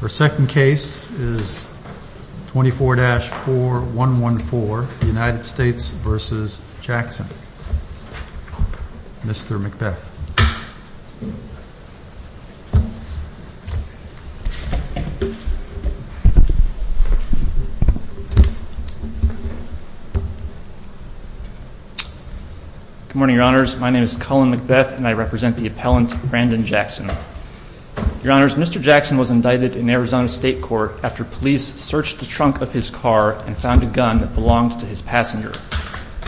The second case is 24-4114 United States v. Jackson. Mr. Macbeth. Good morning, Your Honors. My name is Cullen Macbeth and I represent the appellant Brandon Jackson. Your Honors, Mr. Jackson was indicted in Arizona State Court after police searched the trunk of his car and found a gun that belonged to his passenger.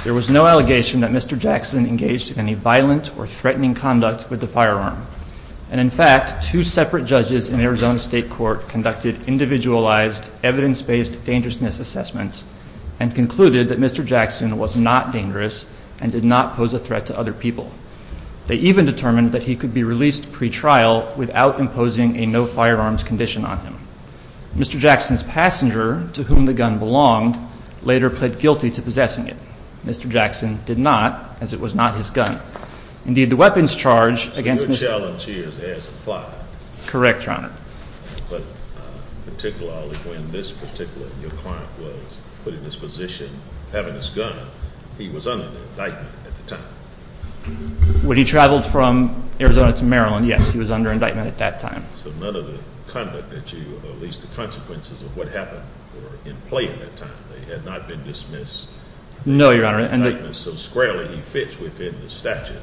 There was no allegation that Mr. Jackson engaged in any violent or threatening conduct with the firearm. And in fact, two separate judges in Arizona State Court conducted individualized, evidence-based dangerousness assessments and concluded that Mr. Jackson was not dangerous and did not pose a threat to other people. They even determined that he could be released pretrial without imposing a no-firearms condition on him. Mr. Jackson's passenger, to whom the gun belonged, later pled guilty to possessing it. Mr. Jackson did not, as it was not his gun. Indeed, the weapons charge against Mr. Jackson Your challenge here has applied. Correct, Your Honor. But particularly when this particular client was put in this position, having this gun, he was under indictment at the time. When he traveled from Arizona to Maryland, yes, he was under indictment at that time. So none of the conduct that you, or at least the consequences of what happened were in play at that time. They had not been dismissed. No, Your Honor. So squarely he fits within the statute.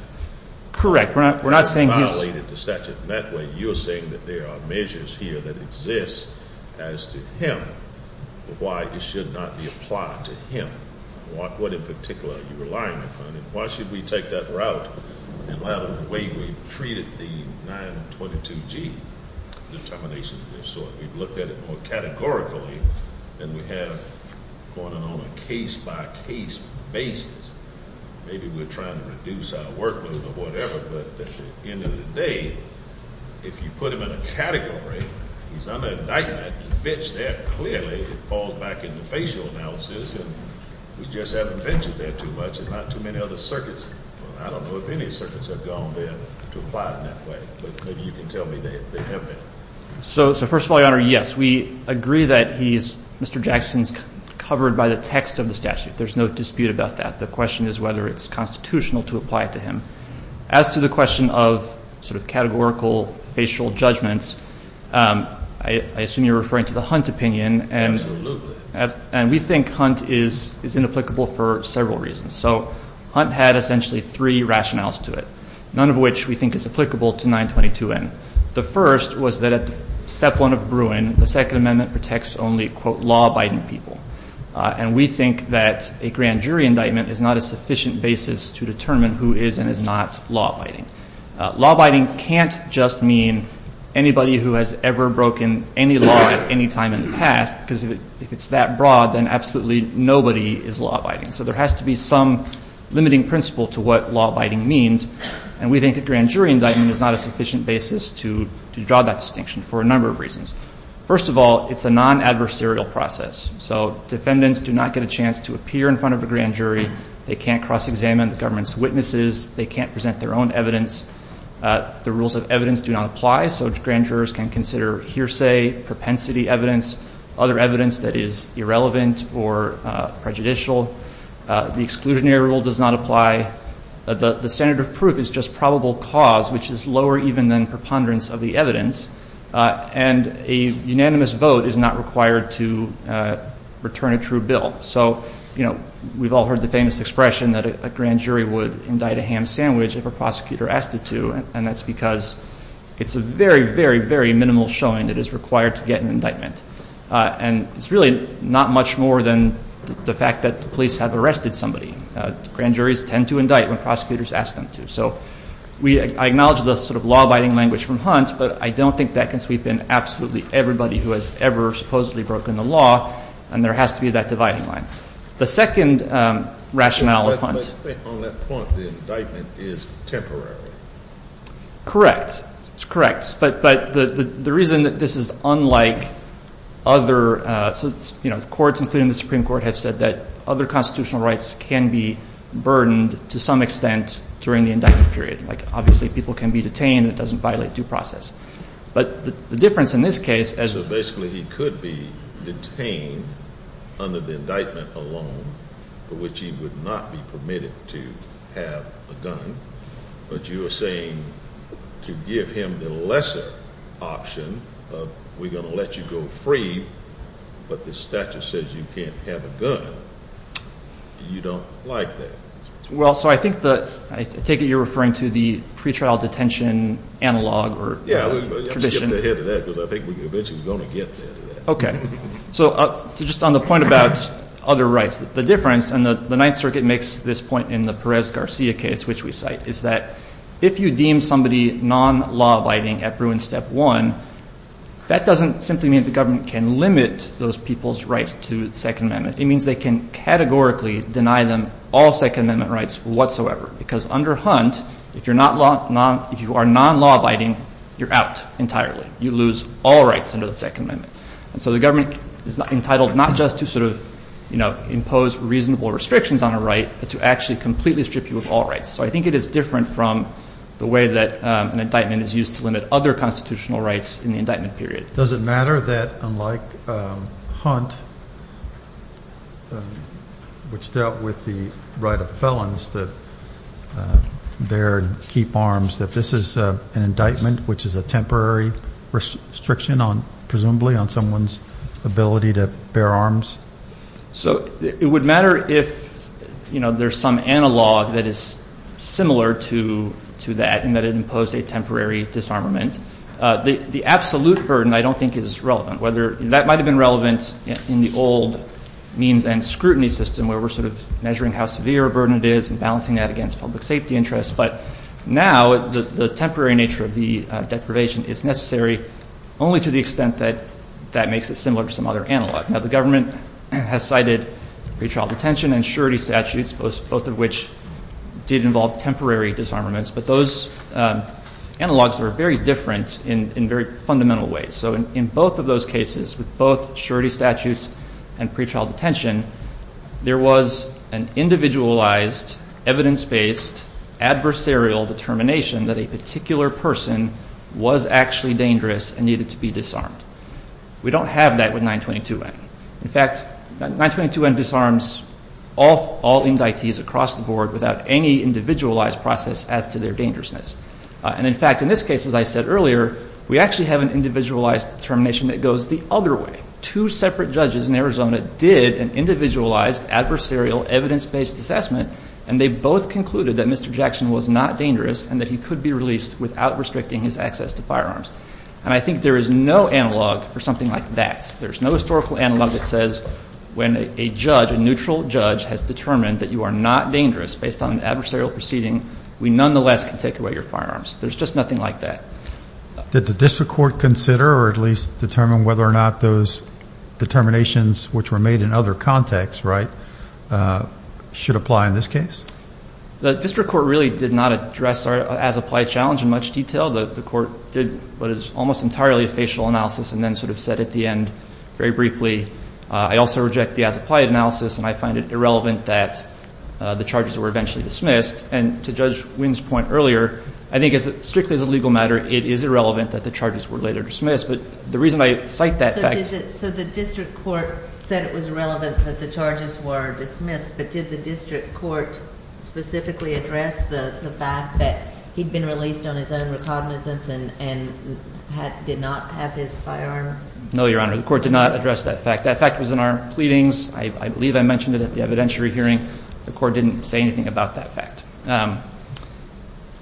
Correct. We're not saying he's You're saying that there are measures here that exist as to him, but why it should not be applied to him. What in particular are you relying upon? And why should we take that route and allow the way we've treated the 922G determination of this sort? We've looked at it more categorically than we have on a case-by-case basis. Maybe we're trying to reduce our workload or whatever, but at the end of the day, if you put him in a category, if he's under indictment, it fits there clearly. It falls back into facial analysis, and we just haven't ventured there too much. There's not too many other circuits. I don't know if any circuits have gone there to apply it in that way, but maybe you can tell me they have been. So first of all, Your Honor, yes, we agree that he's, Mr. Jackson's covered by the text of the statute. There's no dispute about that. The question is whether it's constitutional to apply it to him. As to the question of sort of categorical facial judgments, I assume you're referring to the Hunt opinion. Absolutely. And we think Hunt is inapplicable for several reasons. So Hunt had essentially three rationales to it, none of which we think is applicable to 922N. The first was that at the step one of Bruin, the Second Amendment protects only, quote, law-abiding people. And we think that a grand jury indictment is not a sufficient basis to determine who is and is not law-abiding. Law-abiding can't just mean anybody who has ever broken any law at any time in the past, because if it's that broad, then absolutely nobody is law-abiding. So there has to be some limiting principle to what law-abiding means, and we think a grand jury indictment is not a sufficient basis to draw that distinction for a number of reasons. First of all, it's a non-adversarial process. So defendants do not get a chance to appear in front of a grand jury. They can't cross-examine the government's witnesses. They can't present their own evidence. The rules of evidence do not apply, so grand jurors can consider hearsay, propensity evidence, other evidence that is irrelevant or prejudicial. The exclusionary rule does not apply. The standard of proof is just probable cause, which is lower even than preponderance of the evidence. And a unanimous vote is not required to return a true bill. So, you know, we've all heard the famous expression that a grand jury would indict a ham sandwich if a prosecutor asked it to, and that's because it's a very, very, very minimal showing that it's required to get an indictment. And it's really not much more than the fact that the police have arrested somebody. Grand juries tend to indict when prosecutors ask them to. So I acknowledge the sort of law-abiding language from Hunt, but I don't think that can sweep in absolutely everybody who has ever supposedly broken the law, and there has to be that dividing line. The second rationale of Hunt. On that point, the indictment is temporary. Correct. It's correct. But the reason that this is unlike other courts, including the Supreme Court, has said that other constitutional rights can be burdened to some extent during the indictment period. Like, obviously, people can be detained. It doesn't violate due process. But the difference in this case is that basically he could be detained under the indictment alone, for which he would not be permitted to have a gun. But you are saying to give him the lesser option of we're going to let you go free, but the statute says you can't have a gun. You don't like that. Well, so I think the ‑‑I take it you're referring to the pretrial detention analog or tradition. Yeah, we have to get ahead of that because I think we're eventually going to get ahead of that. Okay. So just on the point about other rights, the difference, and the Ninth Circuit makes this point in the Perez-Garcia case, which we cite, is that if you deem somebody non-law-abiding at Bruin Step 1, that doesn't simply mean the government can limit those people's rights to the Second Amendment. It means they can categorically deny them all Second Amendment rights whatsoever because under Hunt, if you are non-law-abiding, you're out entirely. You lose all rights under the Second Amendment. And so the government is entitled not just to sort of impose reasonable restrictions on a right but to actually completely strip you of all rights. So I think it is different from the way that an indictment is used to limit other constitutional rights in the indictment period. Does it matter that unlike Hunt, which dealt with the right of felons to bear and keep arms, that this is an indictment which is a temporary restriction on, presumably, on someone's ability to bear arms? So it would matter if, you know, there's some analog that is similar to that in that it imposed a temporary disarmament. The absolute burden I don't think is relevant. That might have been relevant in the old means and scrutiny system where we're sort of measuring how severe a burden it is and balancing that against public safety interests. But now the temporary nature of the deprivation is necessary only to the extent that that makes it similar to some other analog. Now the government has cited pretrial detention and surety statutes, both of which did involve temporary disarmaments. But those analogs are very different in very fundamental ways. So in both of those cases, with both surety statutes and pretrial detention, there was an individualized, evidence-based, adversarial determination that a particular person was actually dangerous and needed to be disarmed. We don't have that with 922-N. In fact, 922-N disarms all indictees across the board without any individualized process as to their dangerousness. And in fact, in this case, as I said earlier, we actually have an individualized determination that goes the other way. Two separate judges in Arizona did an individualized, adversarial, evidence-based assessment, and they both concluded that Mr. Jackson was not dangerous and that he could be released without restricting his access to firearms. And I think there is no analog for something like that. There's no historical analog that says when a judge, a neutral judge, has determined that you are not dangerous based on an adversarial proceeding, we nonetheless can take away your firearms. There's just nothing like that. Did the district court consider or at least determine whether or not those determinations, which were made in other contexts, right, should apply in this case? The district court really did not address our as-applied challenge in much detail. The court did what is almost entirely a facial analysis and then sort of said at the end, very briefly, I also reject the as-applied analysis and I find it irrelevant that the charges were eventually dismissed. And to Judge Wynne's point earlier, I think strictly as a legal matter, it is irrelevant that the charges were later dismissed. But the reason I cite that fact. So the district court said it was irrelevant that the charges were dismissed, but did the district court specifically address the fact that he'd been released on his own recognizance and did not have his firearm? No, Your Honor. The court did not address that fact. That fact was in our pleadings. I believe I mentioned it at the evidentiary hearing. The court didn't say anything about that fact.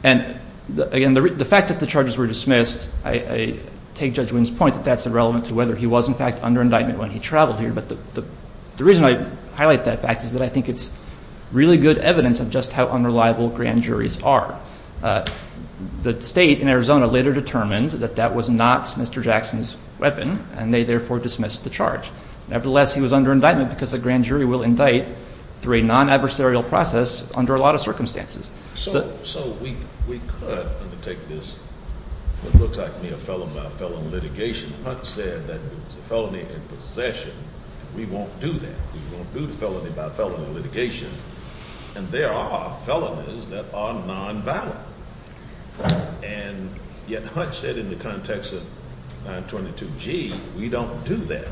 And again, the fact that the charges were dismissed, I take Judge Wynne's point that that's irrelevant to whether he was, in fact, under indictment when he traveled here. But the reason I highlight that fact is that I think it's really good evidence of just how unreliable grand juries are. The state in Arizona later determined that that was not Mr. Jackson's weapon, and they therefore dismissed the charge. Nevertheless, he was under indictment because a grand jury will indict through a non-adversarial process under a lot of circumstances. So we could undertake this. It looks like we have felon-by-felon litigation. Hunt said that it was a felony in possession. We won't do that. We won't do the felony-by-felony litigation. And there are felonies that are non-violent. And yet Hunt said in the context of 922G, we don't do that.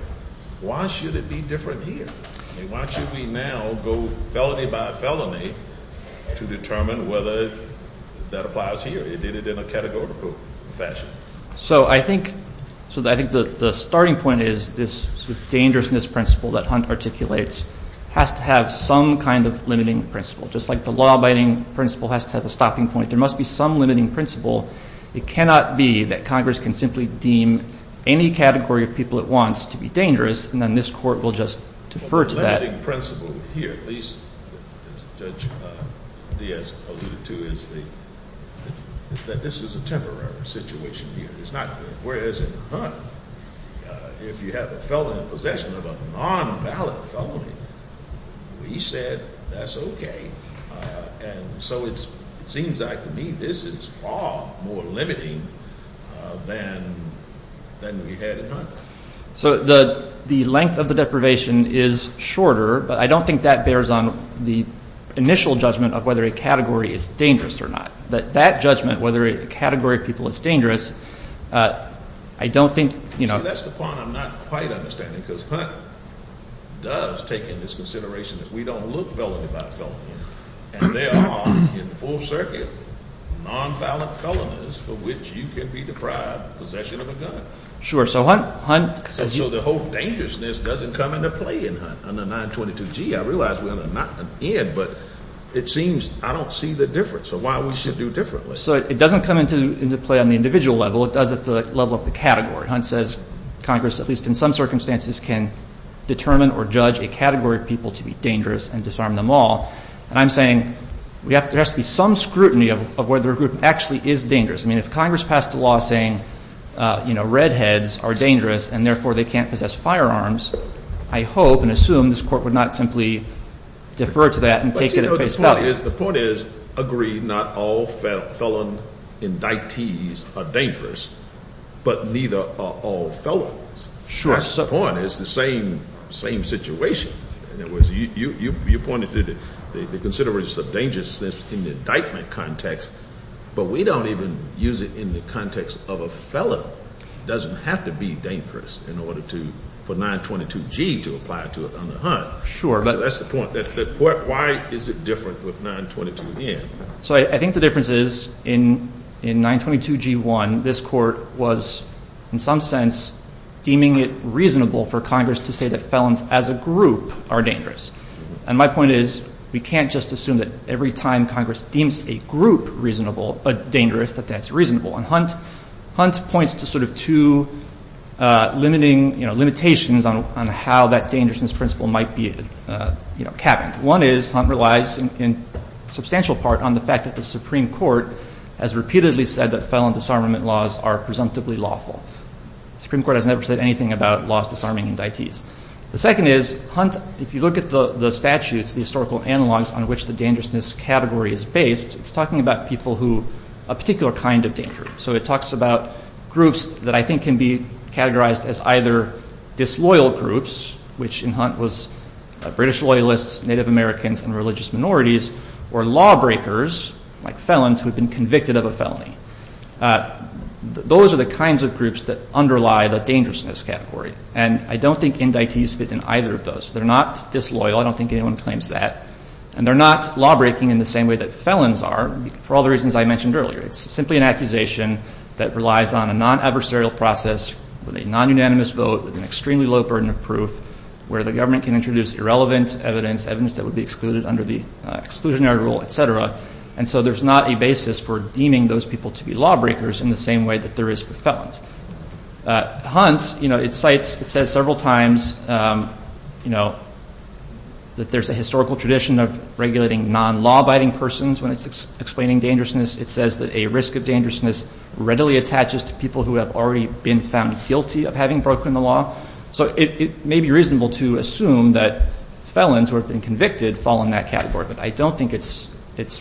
Why should it be different here? Why should we now go felony-by-felony to determine whether that applies here? He did it in a categorical fashion. So I think the starting point is this dangerousness principle that Hunt articulates has to have some kind of limiting principle, just like the law-abiding principle has to have a stopping point. There must be some limiting principle. It cannot be that Congress can simply deem any category of people it wants to be dangerous, and then this court will just defer to that. Well, the limiting principle here, at least as Judge Diaz alluded to, is that this is a temporary situation here. Whereas in Hunt, if you have a felon in possession of a non-violent felony, we said that's okay. And so it seems like to me this is far more limiting than we had in Hunt. So the length of the deprivation is shorter, but I don't think that bears on the initial judgment of whether a category is dangerous or not. That judgment, whether a category of people is dangerous, I don't think, you know. See, that's the part I'm not quite understanding because Hunt does take into consideration that we don't look felony-by-felony, and there are in the full circuit non-violent felonies for which you can be deprived of possession of a gun. Sure. So Hunt says you – So the whole dangerousness doesn't come into play in Hunt under 922G. I realize we're on a not-an-end, but it seems I don't see the difference. So why we should do differently. So it doesn't come into play on the individual level. It does at the level of the category. Hunt says Congress, at least in some circumstances, can determine or judge a category of people to be dangerous and disarm them all. And I'm saying there has to be some scrutiny of whether a group actually is dangerous. I mean, if Congress passed a law saying, you know, redheads are dangerous and therefore they can't possess firearms, I hope and assume this Court would not simply defer to that and take it at face value. The point is, agree, not all felon indictees are dangerous, but neither are all felons. Sure. That's the point. It's the same situation. In other words, you pointed to the consideration of dangerousness in the indictment context, but we don't even use it in the context of a felon. It doesn't have to be dangerous in order for 922G to apply to it under Hunt. Sure. That's the point. Why is it different with 922N? So I think the difference is in 922G1, this Court was, in some sense, deeming it reasonable for Congress to say that felons as a group are dangerous. And my point is we can't just assume that every time Congress deems a group dangerous, that that's reasonable. And Hunt points to sort of two limitations on how that dangerousness principle might be capped. One is Hunt relies in substantial part on the fact that the Supreme Court has repeatedly said that felon disarmament laws are presumptively lawful. The Supreme Court has never said anything about laws disarming indictees. The second is Hunt, if you look at the statutes, the historical analogs on which the dangerousness category is based, it's talking about people who are a particular kind of danger. So it talks about groups that I think can be categorized as either disloyal groups, which in Hunt was British loyalists, Native Americans, and religious minorities, or lawbreakers like felons who have been convicted of a felony. Those are the kinds of groups that underlie the dangerousness category. And I don't think indictees fit in either of those. They're not disloyal. I don't think anyone claims that. And they're not lawbreaking in the same way that felons are for all the reasons I mentioned earlier. It's simply an accusation that relies on a non-adversarial process with a non-unanimous vote with an extremely low burden of proof where the government can introduce irrelevant evidence, evidence that would be excluded under the exclusionary rule, et cetera. And so there's not a basis for deeming those people to be lawbreakers in the same way that there is for felons. Hunt, you know, it says several times, you know, that there's a historical tradition of regulating non-law-abiding persons when it's explaining dangerousness. It says that a risk of dangerousness readily attaches to people who have already been found guilty of having broken the law. So it may be reasonable to assume that felons who have been convicted fall in that category. But I don't think it's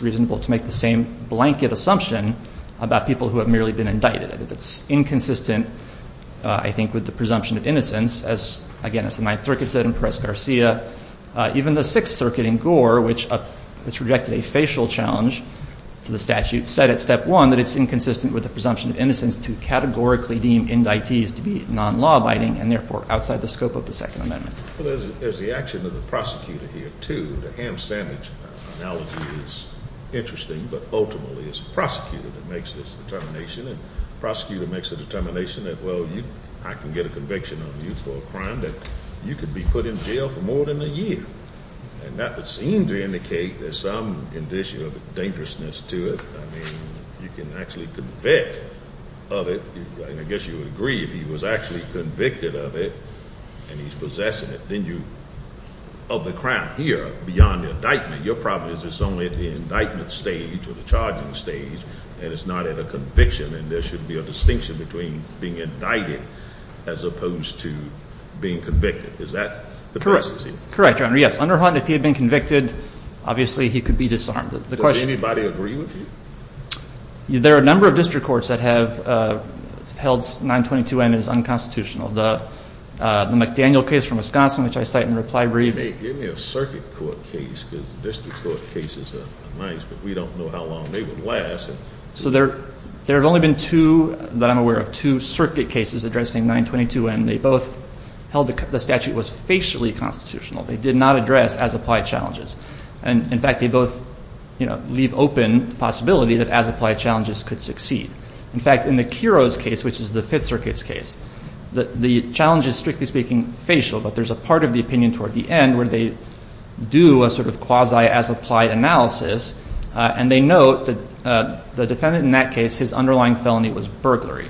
reasonable to make the same blanket assumption about people who have merely been indicted. It's inconsistent, I think, with the presumption of innocence. Again, as the Ninth Circuit said in Perez-Garcia, even the Sixth Circuit in Gore, which rejected a facial challenge to the statute, said at step one that it's inconsistent with the presumption of innocence to categorically deem indictees to be non-law-abiding and therefore outside the scope of the Second Amendment. Well, there's the action of the prosecutor here, too. The ham sandwich analogy is interesting, but ultimately it's the prosecutor that makes this determination, and the prosecutor makes the determination that, well, I can get a conviction on you for a crime that you could be put in jail for more than a year. And that would seem to indicate there's some condition of dangerousness to it. I mean, you can actually convict of it, and I guess you would agree, if he was actually convicted of it and he's possessing it, then you, of the crime here beyond the indictment, your problem is it's only at the indictment stage or the charging stage, and it's not at a conviction, and there should be a distinction between being indicted as opposed to being convicted. Is that the prophecy? Correct, Your Honor, yes. Under Houghton, if he had been convicted, obviously he could be disarmed. Does anybody agree with you? There are a number of district courts that have held 922N as unconstitutional. The McDaniel case from Wisconsin, which I cite in reply briefs. Give me a circuit court case because district court cases are nice, but we don't know how long they would last. So there have only been two that I'm aware of, two circuit cases addressing 922N. They both held the statute was facially constitutional. They did not address as-applied challenges. And, in fact, they both leave open the possibility that as-applied challenges could succeed. In fact, in the Kuro's case, which is the Fifth Circuit's case, the challenge is, strictly speaking, facial, but there's a part of the opinion toward the end where they do a sort of quasi as-applied analysis. And they note that the defendant in that case, his underlying felony was burglary.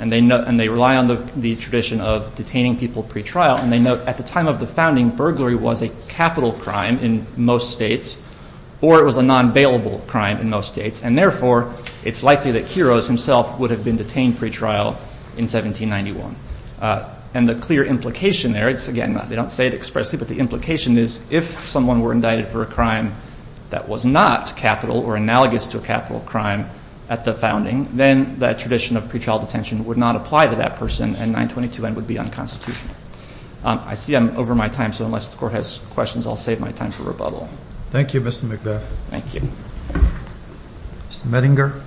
And they rely on the tradition of detaining people pretrial. And they note at the time of the founding, burglary was a capital crime in most states or it was a non-bailable crime in most states. And, therefore, it's likely that Kuro's himself would have been detained pretrial in 1791. And the clear implication there is, again, they don't say it expressly, but the implication is if someone were indicted for a crime that was not capital or analogous to a capital crime at the founding, then that tradition of pretrial detention would not apply to that person and 922N would be unconstitutional. I see I'm over my time, so unless the Court has questions, I'll save my time for rebuttal. Thank you, Mr. McBeth. Thank you. Mr. Medinger.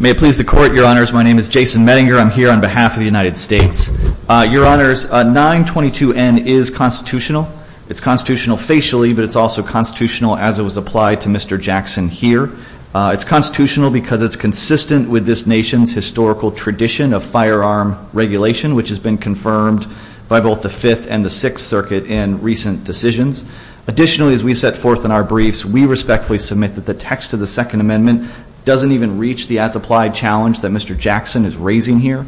May it please the Court, Your Honors, my name is Jason Medinger. I'm here on behalf of the United States. Your Honors, 922N is constitutional. It's constitutional facially, but it's also constitutional as it was applied to Mr. Jackson here. It's constitutional because it's consistent with this nation's historical tradition of firearm regulation, which has been confirmed by both the Fifth and the Sixth Circuit in recent decisions. Additionally, as we set forth in our briefs, we respectfully submit that the text of the Second Amendment doesn't even reach the as-applied challenge that Mr. Jackson is raising here.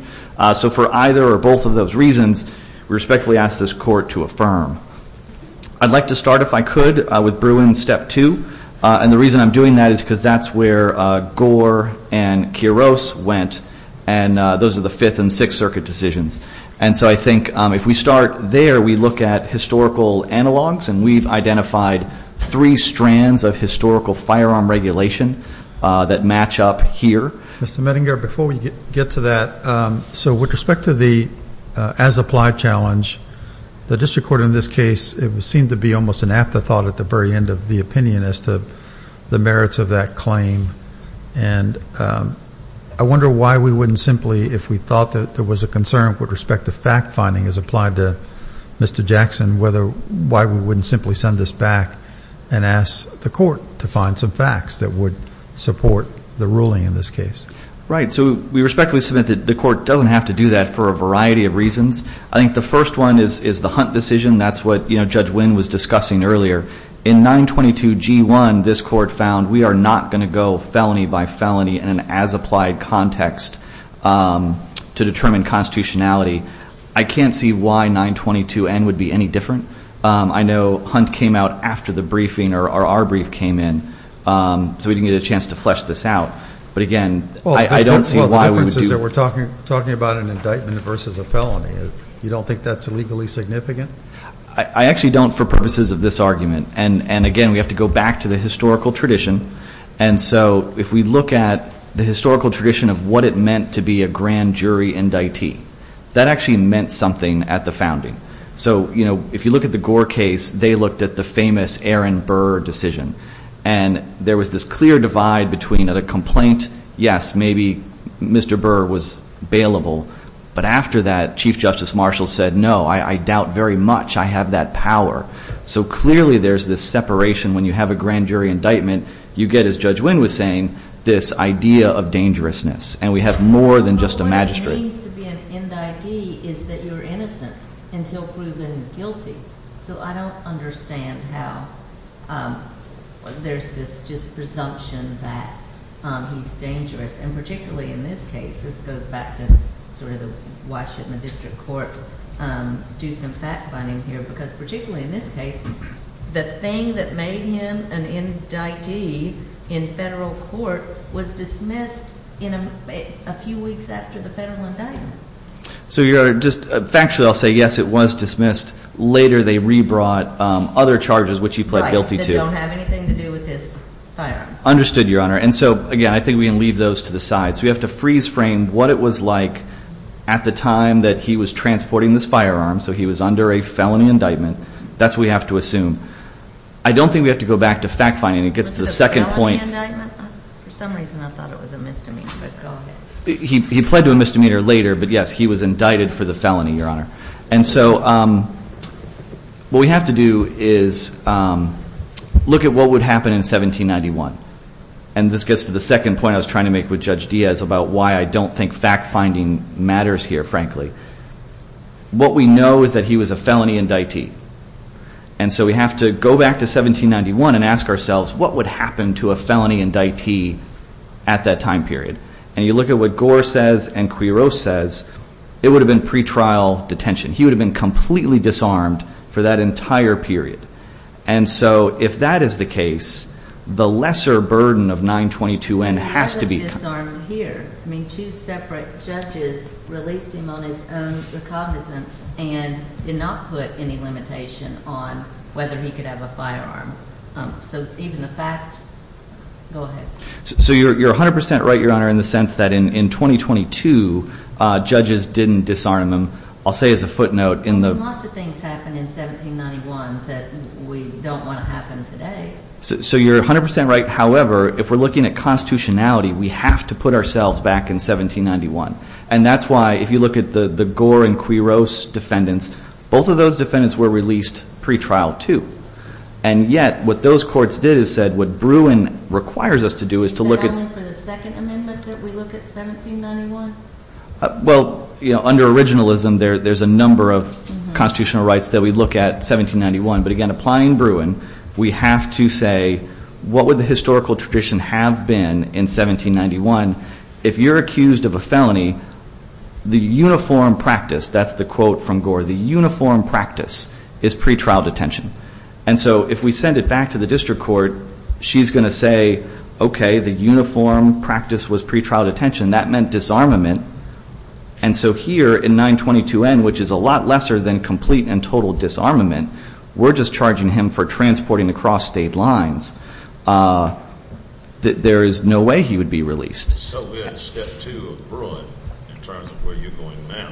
So for either or both of those reasons, we respectfully ask this Court to affirm. I'd like to start, if I could, with Bruin's Step 2, and the reason I'm doing that is because that's where Gore and Quiros went, and those are the Fifth and Sixth Circuit decisions. And so I think if we start there, we look at historical analogs, and we've identified three strands of historical firearm regulation that match up here. Mr. Medinger, before we get to that, so with respect to the as-applied challenge, the district court in this case, it seemed to be almost an afterthought at the very end of the opinion as to the merits of that claim. And I wonder why we wouldn't simply, if we thought that there was a concern with respect to fact-finding as applied to Mr. Jackson, why we wouldn't simply send this back and ask the Court to find some facts that would support the ruling in this case. Right. So we respectfully submit that the Court doesn't have to do that for a variety of reasons. I think the first one is the Hunt decision. That's what Judge Wynn was discussing earlier. In 922G1, this Court found we are not going to go felony by felony in an as-applied context to determine constitutionality. I can't see why 922N would be any different. I know Hunt came out after the briefing or our brief came in, so we didn't get a chance to flesh this out. But, again, I don't see why we would do that. Well, the difference is that we're talking about an indictment versus a felony. You don't think that's legally significant? I actually don't for purposes of this argument. And, again, we have to go back to the historical tradition. And so if we look at the historical tradition of what it meant to be a grand jury indictee, that actually meant something at the founding. So, you know, if you look at the Gore case, they looked at the famous Aaron Burr decision. And there was this clear divide between a complaint, yes, maybe Mr. Burr was bailable, but after that Chief Justice Marshall said, no, I doubt very much I have that power. So clearly there's this separation when you have a grand jury indictment. You get, as Judge Wynn was saying, this idea of dangerousness. And we have more than just a magistrate. What it means to be an indictee is that you're innocent until proven guilty. So I don't understand how there's this just presumption that he's dangerous. And particularly in this case, this goes back to sort of the why shouldn't the district court do some fact-finding here? Because particularly in this case, the thing that made him an indictee in federal court was dismissed in a few weeks after the federal indictment. So, Your Honor, just factually I'll say, yes, it was dismissed. Later they rebrought other charges which he pled guilty to. Right, that don't have anything to do with this firing. Understood, Your Honor. And so, again, I think we can leave those to the side. So we have to freeze frame what it was like at the time that he was transporting this firearm. So he was under a felony indictment. That's what we have to assume. I don't think we have to go back to fact-finding. It gets to the second point. Was it a felony indictment? For some reason I thought it was a misdemeanor, but go ahead. He pled to a misdemeanor later, but, yes, he was indicted for the felony, Your Honor. And so what we have to do is look at what would happen in 1791. And this gets to the second point I was trying to make with Judge Diaz about why I don't think fact-finding matters here, frankly. What we know is that he was a felony indictee. And so we have to go back to 1791 and ask ourselves, what would happen to a felony indictee at that time period? And you look at what Gore says and Quiroz says, it would have been pretrial detention. He would have been completely disarmed for that entire period. And so if that is the case, the lesser burden of 922N has to be... He wasn't disarmed here. I mean, two separate judges released him on his own recognizance and did not put any limitation on whether he could have a firearm. So even the fact.. .go ahead. So you're 100% right, Your Honor, in the sense that in 2022 judges didn't disarm him. I'll say as a footnote in the... We don't want to happen today. So you're 100% right. However, if we're looking at constitutionality, we have to put ourselves back in 1791. And that's why, if you look at the Gore and Quiroz defendants, both of those defendants were released pretrial too. And yet what those courts did is said what Bruin requires us to do is to look at... Is it only for the Second Amendment that we look at 1791? Well, under originalism, there's a number of constitutional rights that we look at 1791. But again, applying Bruin, we have to say what would the historical tradition have been in 1791? If you're accused of a felony, the uniform practice... That's the quote from Gore. The uniform practice is pretrial detention. And so if we send it back to the district court, she's going to say, okay, the uniform practice was pretrial detention. That meant disarmament. And so here in 922N, which is a lot lesser than complete and total disarmament, we're just charging him for transporting across state lines. There is no way he would be released. So we're at step two of Bruin in terms of where you're going now.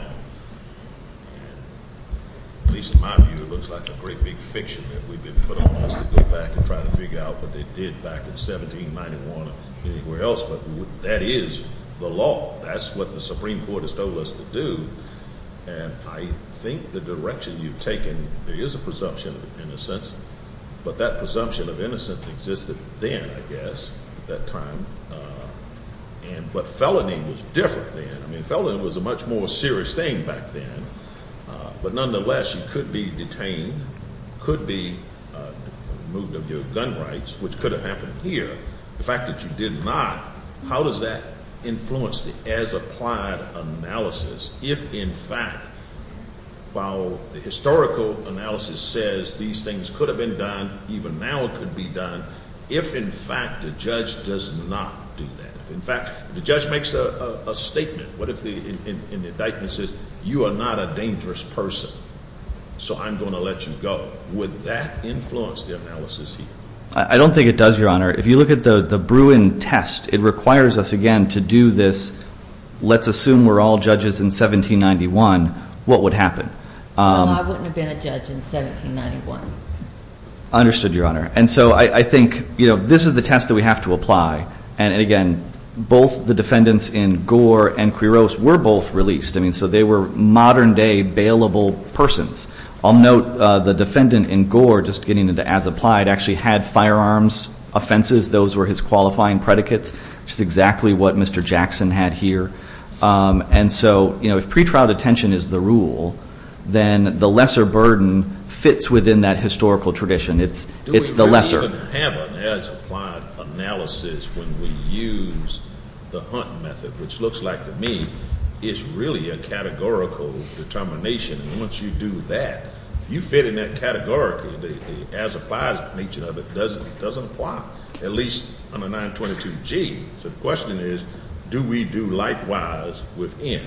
At least in my view, it looks like a great big fiction that we've been put on us to go back and try to figure out what they did back in 1791 or anywhere else. But that is the law. That's what the Supreme Court has told us to do. And I think the direction you've taken, there is a presumption of innocence. But that presumption of innocence existed then, I guess, at that time. But felony was different then. I mean, felony was a much more serious thing back then. But nonetheless, you could be detained, could be removed of your gun rights, which could have happened here. The fact that you did not, how does that influence the as-applied analysis? If, in fact, while the historical analysis says these things could have been done, even now it could be done, if, in fact, the judge does not do that, if, in fact, the judge makes a statement, what if the indictment says, you are not a dangerous person, so I'm going to let you go, would that influence the analysis here? I don't think it does, Your Honor. If you look at the Bruin test, it requires us, again, to do this, let's assume we're all judges in 1791, what would happen? No, I wouldn't have been a judge in 1791. Understood, Your Honor. And so I think, you know, this is the test that we have to apply. And, again, both the defendants in Gore and Quiros were both released. I mean, so they were modern-day bailable persons. I'll note the defendant in Gore, just getting into as-applied, actually had firearms offenses. Those were his qualifying predicates, which is exactly what Mr. Jackson had here. And so, you know, if pretrial detention is the rule, then the lesser burden fits within that historical tradition. It's the lesser. Do we really have an as-applied analysis when we use the Hunt method, which looks like to me is really a categorical determination. And once you do that, you fit in that categorical, the as-applied nature of it doesn't apply, at least on a 922G. So the question is, do we do likewise with N?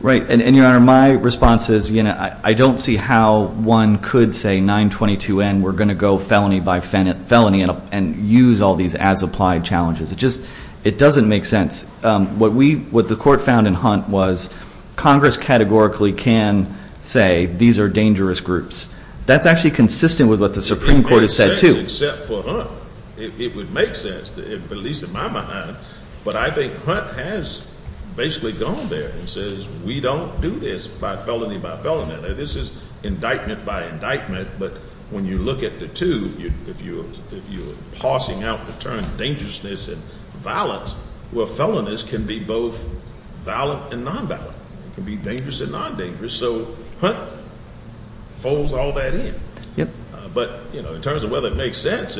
Right. And, Your Honor, my response is, you know, I don't see how one could say 922N, we're going to go felony by felony and use all these as-applied challenges. It just doesn't make sense. What the Court found in Hunt was Congress categorically can say these are dangerous groups. That's actually consistent with what the Supreme Court has said, too. It doesn't make sense except for Hunt. It would make sense, at least in my mind. But I think Hunt has basically gone there and says we don't do this by felony by felony. Now, this is indictment by indictment, but when you look at the two, if you're parsing out the term dangerousness and violence, well, felonies can be both violent and non-violent. It can be dangerous and non-dangerous. So Hunt folds all that in. But, you know, in terms of whether it makes sense,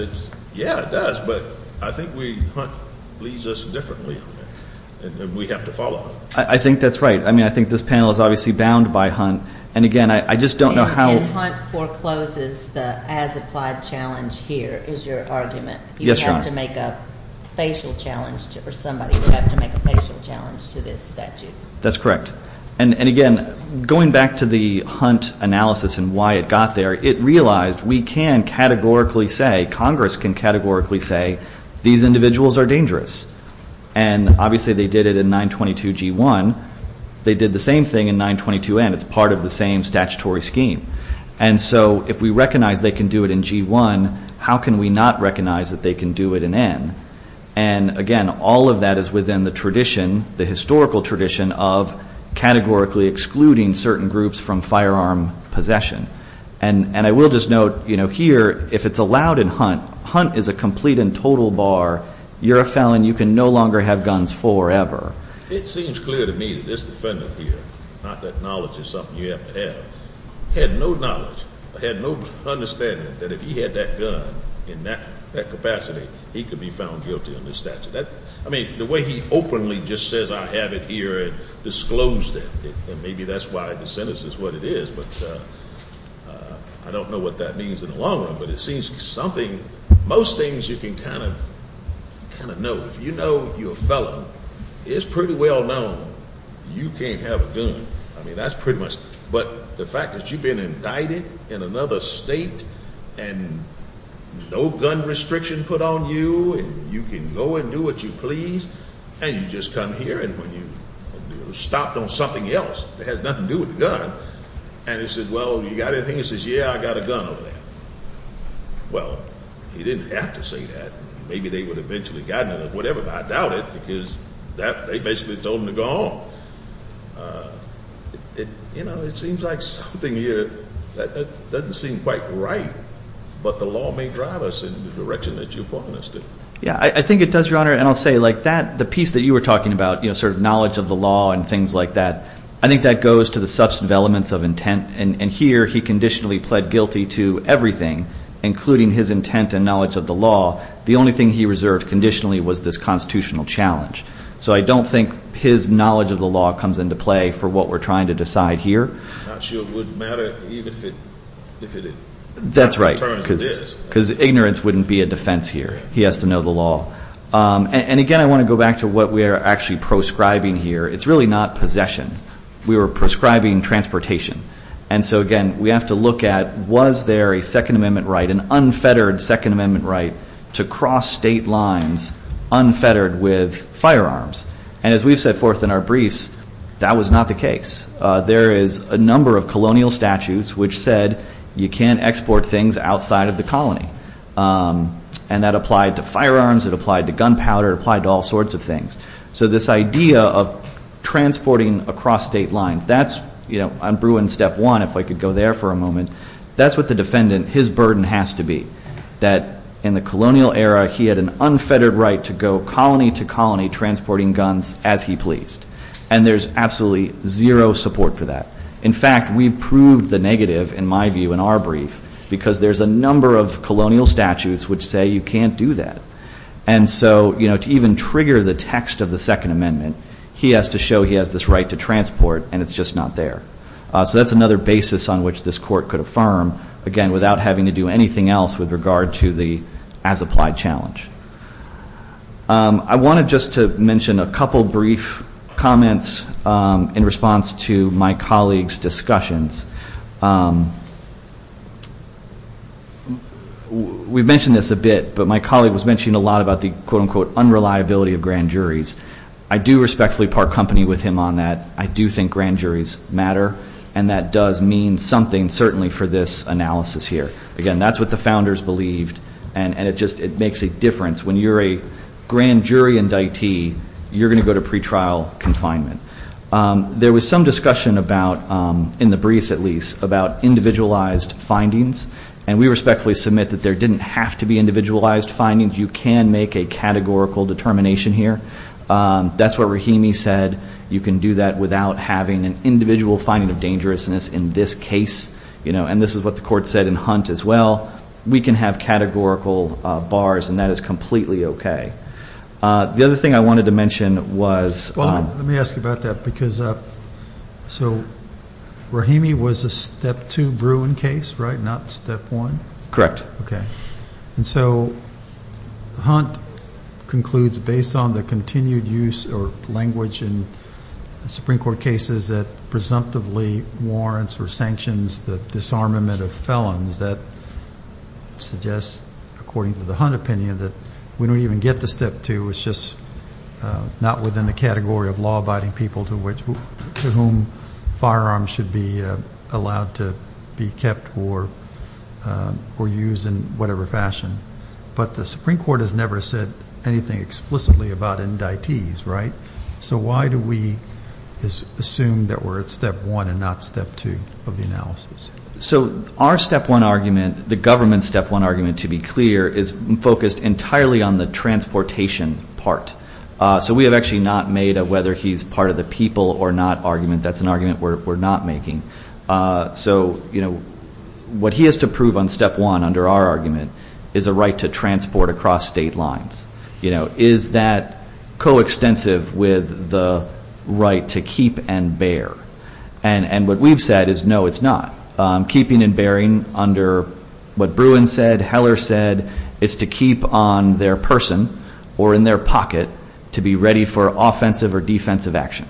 yeah, it does. But I think Hunt leads us differently, and we have to follow. I think that's right. I mean, I think this panel is obviously bound by Hunt. And, again, I just don't know how. And Hunt forecloses the as-applied challenge here is your argument. Yes, Your Honor. You have to make a facial challenge or somebody would have to make a facial challenge to this statute. That's correct. And, again, going back to the Hunt analysis and why it got there, it realized we can categorically say, Congress can categorically say these individuals are dangerous. And, obviously, they did it in 922G1. They did the same thing in 922N. It's part of the same statutory scheme. And so if we recognize they can do it in G1, how can we not recognize that they can do it in N? And, again, all of that is within the tradition, the historical tradition, of categorically excluding certain groups from firearm possession. And I will just note, you know, here, if it's allowed in Hunt, Hunt is a complete and total bar. You're a felon. You can no longer have guns forever. It seems clear to me that this defendant here, not that knowledge is something you have to have, had no knowledge or had no understanding that if he had that gun in that capacity, he could be found guilty under this statute. I mean, the way he openly just says I have it here and disclosed it, and maybe that's why the sentence is what it is, but I don't know what that means in the long run. But it seems something, most things you can kind of know. If you know you're a felon, it's pretty well known you can't have a gun. I mean, that's pretty much. But the fact that you've been indicted in another state and no gun restriction put on you and you can go and do what you please and you just come here and when you're stopped on something else that has nothing to do with the gun, and he says, well, you got anything? He says, yeah, I got a gun over there. Well, he didn't have to say that. Maybe they would have eventually gotten it or whatever, but I doubt it because they basically told him to go home. You know, it seems like something here that doesn't seem quite right, but the law may drive us in the direction that you point us to. Yeah, I think it does, Your Honor, and I'll say like that, the piece that you were talking about, sort of knowledge of the law and things like that, I think that goes to the substantive elements of intent, and here he conditionally pled guilty to everything, including his intent and knowledge of the law. The only thing he reserved conditionally was this constitutional challenge. So I don't think his knowledge of the law comes into play for what we're trying to decide here. I'm not sure it would matter even if it did. That's right, because ignorance wouldn't be a defense here. He has to know the law. And, again, I want to go back to what we are actually proscribing here. It's really not possession. We were proscribing transportation, and so, again, we have to look at was there a Second Amendment right, an unfettered Second Amendment right to cross state lines unfettered with firearms? And as we've set forth in our briefs, that was not the case. There is a number of colonial statutes which said you can't export things outside of the colony, and that applied to firearms, it applied to gunpowder, it applied to all sorts of things. So this idea of transporting across state lines, that's, you know, I'm brewing step one, if I could go there for a moment. That's what the defendant, his burden has to be, that in the colonial era, he had an unfettered right to go colony to colony transporting guns as he pleased, and there's absolutely zero support for that. In fact, we've proved the negative, in my view, in our brief, because there's a number of colonial statutes which say you can't do that. And so, you know, to even trigger the text of the Second Amendment, he has to show he has this right to transport, and it's just not there. So that's another basis on which this court could affirm, again, without having to do anything else with regard to the as-applied challenge. I wanted just to mention a couple brief comments in response to my colleague's discussions. We've mentioned this a bit, but my colleague was mentioning a lot about the, quote, unquote, unreliability of grand juries. I do respectfully park company with him on that. I do think grand juries matter, and that does mean something, certainly, for this analysis here. Again, that's what the founders believed, and it just makes a difference. When you're a grand jury indictee, you're going to go to pretrial confinement. There was some discussion about, in the briefs at least, about individualized findings, and we respectfully submit that there didn't have to be individualized findings. You can make a categorical determination here. That's what Rahimi said. You can do that without having an individual finding of dangerousness in this case, and this is what the court said in Hunt as well. We can have categorical bars, and that is completely okay. The other thing I wanted to mention was ‑‑ Well, let me ask you about that, because so Rahimi was a Step 2 Bruin case, right, not Step 1? Correct. Okay. And so Hunt concludes, based on the continued use or language in Supreme Court cases that presumptively warrants or sanctions the disarmament of felons, that suggests, according to the Hunt opinion, that we don't even get to Step 2. It's just not within the category of law-abiding people to whom firearms should be allowed to be kept or used in whatever fashion. But the Supreme Court has never said anything explicitly about indictees, right? So why do we assume that we're at Step 1 and not Step 2 of the analysis? So our Step 1 argument, the government's Step 1 argument, to be clear, is focused entirely on the transportation part. So we have actually not made a whether he's part of the people or not argument. That's an argument we're not making. So, you know, what he has to prove on Step 1 under our argument is a right to transport across state lines. You know, is that coextensive with the right to keep and bear? And what we've said is no, it's not. Keeping and bearing under what Bruin said, Heller said, is to keep on their person or in their pocket to be ready for offensive or defensive action.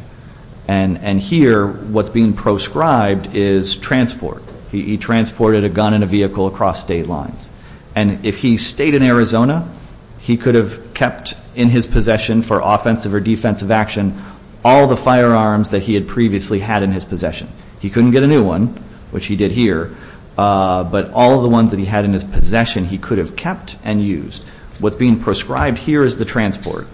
And here what's being proscribed is transport. He transported a gun and a vehicle across state lines. And if he stayed in Arizona, he could have kept in his possession for offensive or defensive action all the firearms that he had previously had in his possession. He couldn't get a new one, which he did here, but all the ones that he had in his possession he could have kept and used. What's being proscribed here is the transport.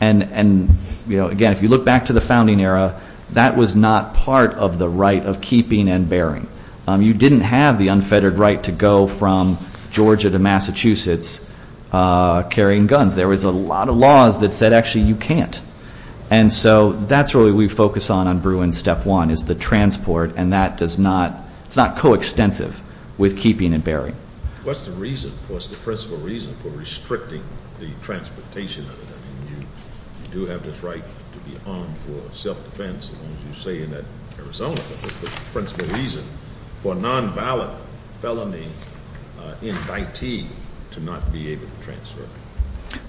And, you know, again, if you look back to the founding era, that was not part of the right of keeping and bearing. You didn't have the unfettered right to go from Georgia to Massachusetts carrying guns. There was a lot of laws that said actually you can't. And so that's really what we focus on on Bruin's Step 1 is the transport, and that does not, it's not coextensive with keeping and bearing. What's the reason, what's the principal reason for restricting the transportation of it? I mean, you do have this right to be armed for self-defense, as long as you say in Arizona, but what's the principal reason for a non-valid felony in Daiti to not be able to transfer?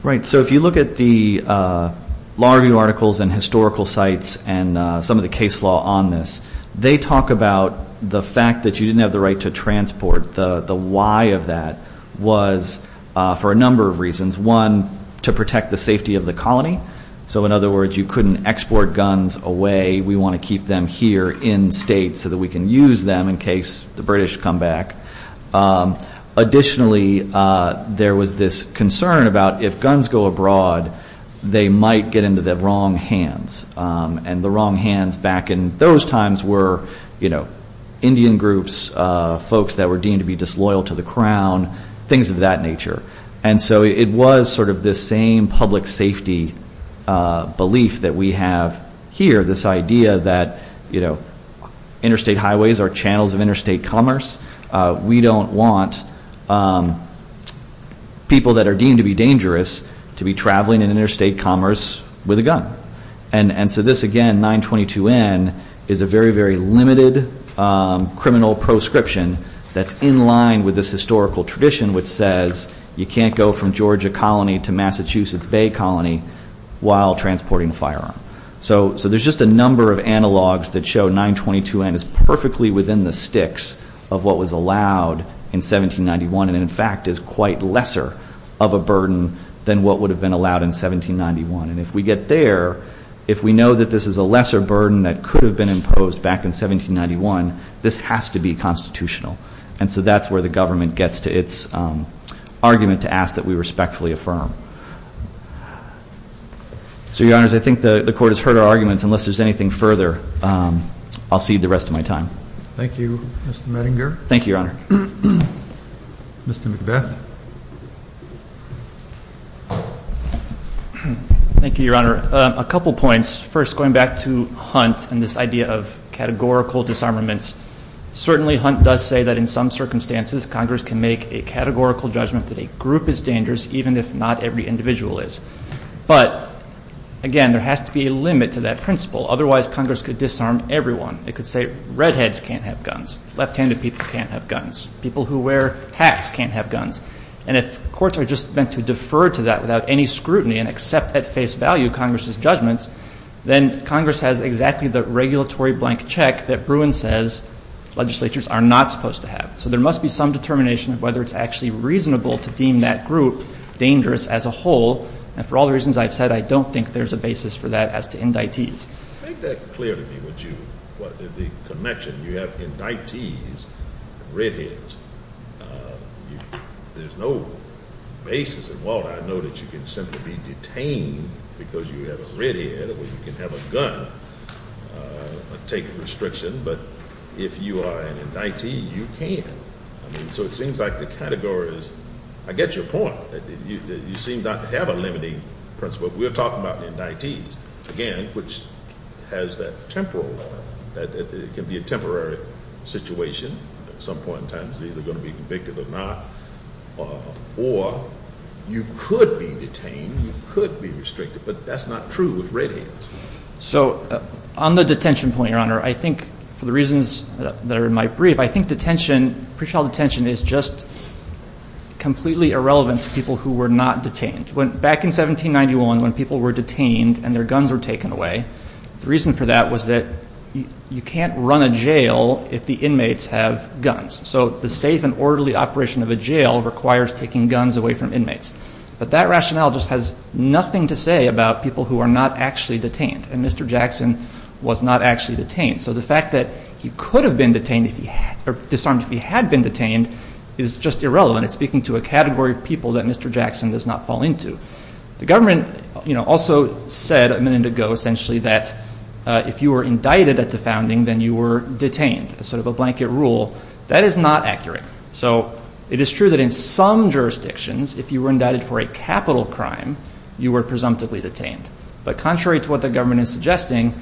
Right. So if you look at the law review articles and historical sites and some of the case law on this, they talk about the fact that you didn't have the right to transport. The why of that was for a number of reasons. One, to protect the safety of the colony. So, in other words, you couldn't export guns away. We want to keep them here in state so that we can use them in case the British come back. Additionally, there was this concern about if guns go abroad, they might get into the wrong hands, and the wrong hands back in those times were Indian groups, folks that were deemed to be disloyal to the crown, things of that nature. And so it was sort of this same public safety belief that we have here, this idea that interstate highways are channels of interstate commerce. We don't want people that are deemed to be dangerous to be traveling in interstate commerce with a gun. And so this, again, 922N, is a very, very limited criminal proscription that's in line with this historical tradition which says you can't go from Georgia Colony to Massachusetts Bay Colony while transporting firearms. So there's just a number of analogs that show 922N is perfectly within the sticks of what was allowed in 1791 and, in fact, is quite lesser of a burden than what would have been allowed in 1791. And if we get there, if we know that this is a lesser burden that could have been imposed back in 1791, this has to be constitutional. And so that's where the government gets to its argument to ask that we respectfully affirm. So, Your Honors, I think the Court has heard our arguments. Unless there's anything further, I'll cede the rest of my time. Thank you, Mr. Mettinger. Thank you, Your Honor. Mr. McBeth. Thank you, Your Honor. A couple points. First, going back to Hunt and this idea of categorical disarmaments, certainly Hunt does say that in some circumstances Congress can make a categorical judgment that a group is dangerous even if not every individual is. But, again, there has to be a limit to that principle. Otherwise, Congress could disarm everyone. It could say redheads can't have guns. Left-handed people can't have guns. People who wear hats can't have guns. And if courts are just meant to defer to that without any scrutiny and accept at face value Congress's judgments, then Congress has exactly the regulatory blank check that Bruin says legislatures are not supposed to have. So there must be some determination of whether it's actually reasonable to deem that group dangerous as a whole. And for all the reasons I've said, I don't think there's a basis for that as to indictees. Make that clear to me, the connection. You have indictees and redheads. There's no basis. And, Walter, I know that you can simply be detained because you have a redhead, or you can have a gun and take a restriction. But if you are an indictee, you can. So it seems like the category is – I get your point. You seem not to have a limiting principle. But we're talking about indictees, again, which has that temporal level. It can be a temporary situation. At some point in time it's either going to be convicted or not. Or you could be detained, you could be restricted, but that's not true with redheads. So on the detention point, Your Honor, I think for the reasons that are in my brief, I think detention, pre-trial detention, is just completely irrelevant to people who were not detained. Back in 1791 when people were detained and their guns were taken away, the reason for that was that you can't run a jail if the inmates have guns. So the safe and orderly operation of a jail requires taking guns away from inmates. But that rationale just has nothing to say about people who are not actually detained. And Mr. Jackson was not actually detained. So the fact that he could have been detained or disarmed if he had been detained is just irrelevant. It's speaking to a category of people that Mr. Jackson does not fall into. The government also said a minute ago essentially that if you were indicted at the founding, then you were detained, sort of a blanket rule. That is not accurate. So it is true that in some jurisdictions if you were indicted for a capital crime, you were presumptively detained. But contrary to what the government is suggesting,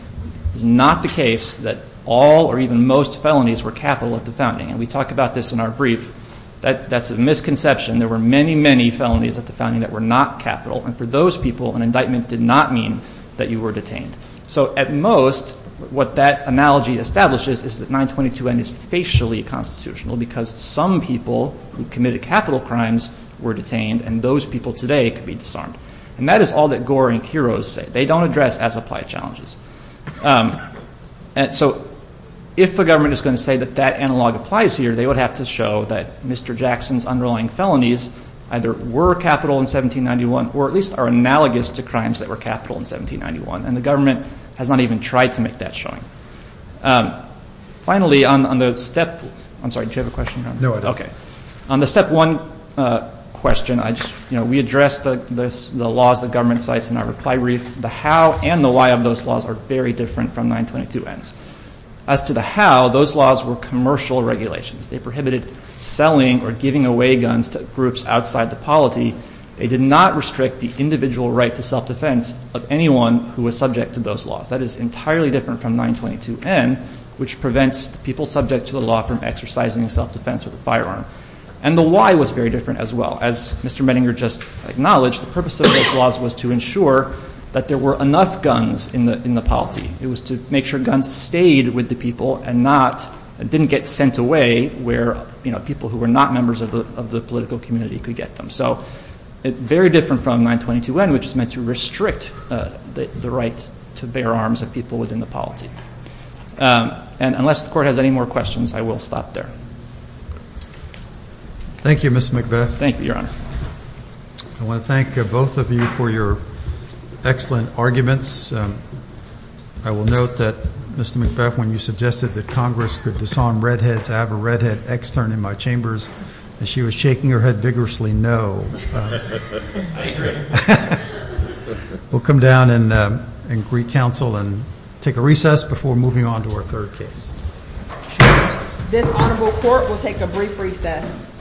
it's not the case that all or even most felonies were capital at the founding. And we talk about this in our brief. That's a misconception. There were many, many felonies at the founding that were not capital. And for those people, an indictment did not mean that you were detained. So at most, what that analogy establishes is that 922N is facially constitutional because some people who committed capital crimes were detained, and those people today could be disarmed. And that is all that Gore and Quiroz say. They don't address as applied challenges. So if the government is going to say that that analog applies here, they would have to show that Mr. Jackson's underlying felonies either were capital in 1791 or at least are analogous to crimes that were capital in 1791. And the government has not even tried to make that showing. Finally, on the step one question, we addressed the laws the government cites in our reply brief. The how and the why of those laws are very different from 922N's. As to the how, those laws were commercial regulations. They prohibited selling or giving away guns to groups outside the polity. They did not restrict the individual right to self-defense of anyone who was subject to those laws. That is entirely different from 922N, which prevents people subject to the law from exercising self-defense with a firearm. And the why was very different as well. As Mr. Mettinger just acknowledged, the purpose of those laws was to ensure that there were enough guns in the polity. It was to make sure guns stayed with the people and didn't get sent away where people who were not members of the political community could get them. So it's very different from 922N, which is meant to restrict the right to bear arms of people within the polity. And unless the Court has any more questions, I will stop there. Thank you, Mr. McBeth. Thank you, Your Honor. I want to thank both of you for your excellent arguments. I will note that, Mr. McBeth, when you suggested that Congress could disarm redheads, I have a redhead extern in my chambers, and she was shaking her head vigorously, no. I agree. We'll come down and greet counsel and take a recess before moving on to our third case. This Honorable Court will take a brief recess.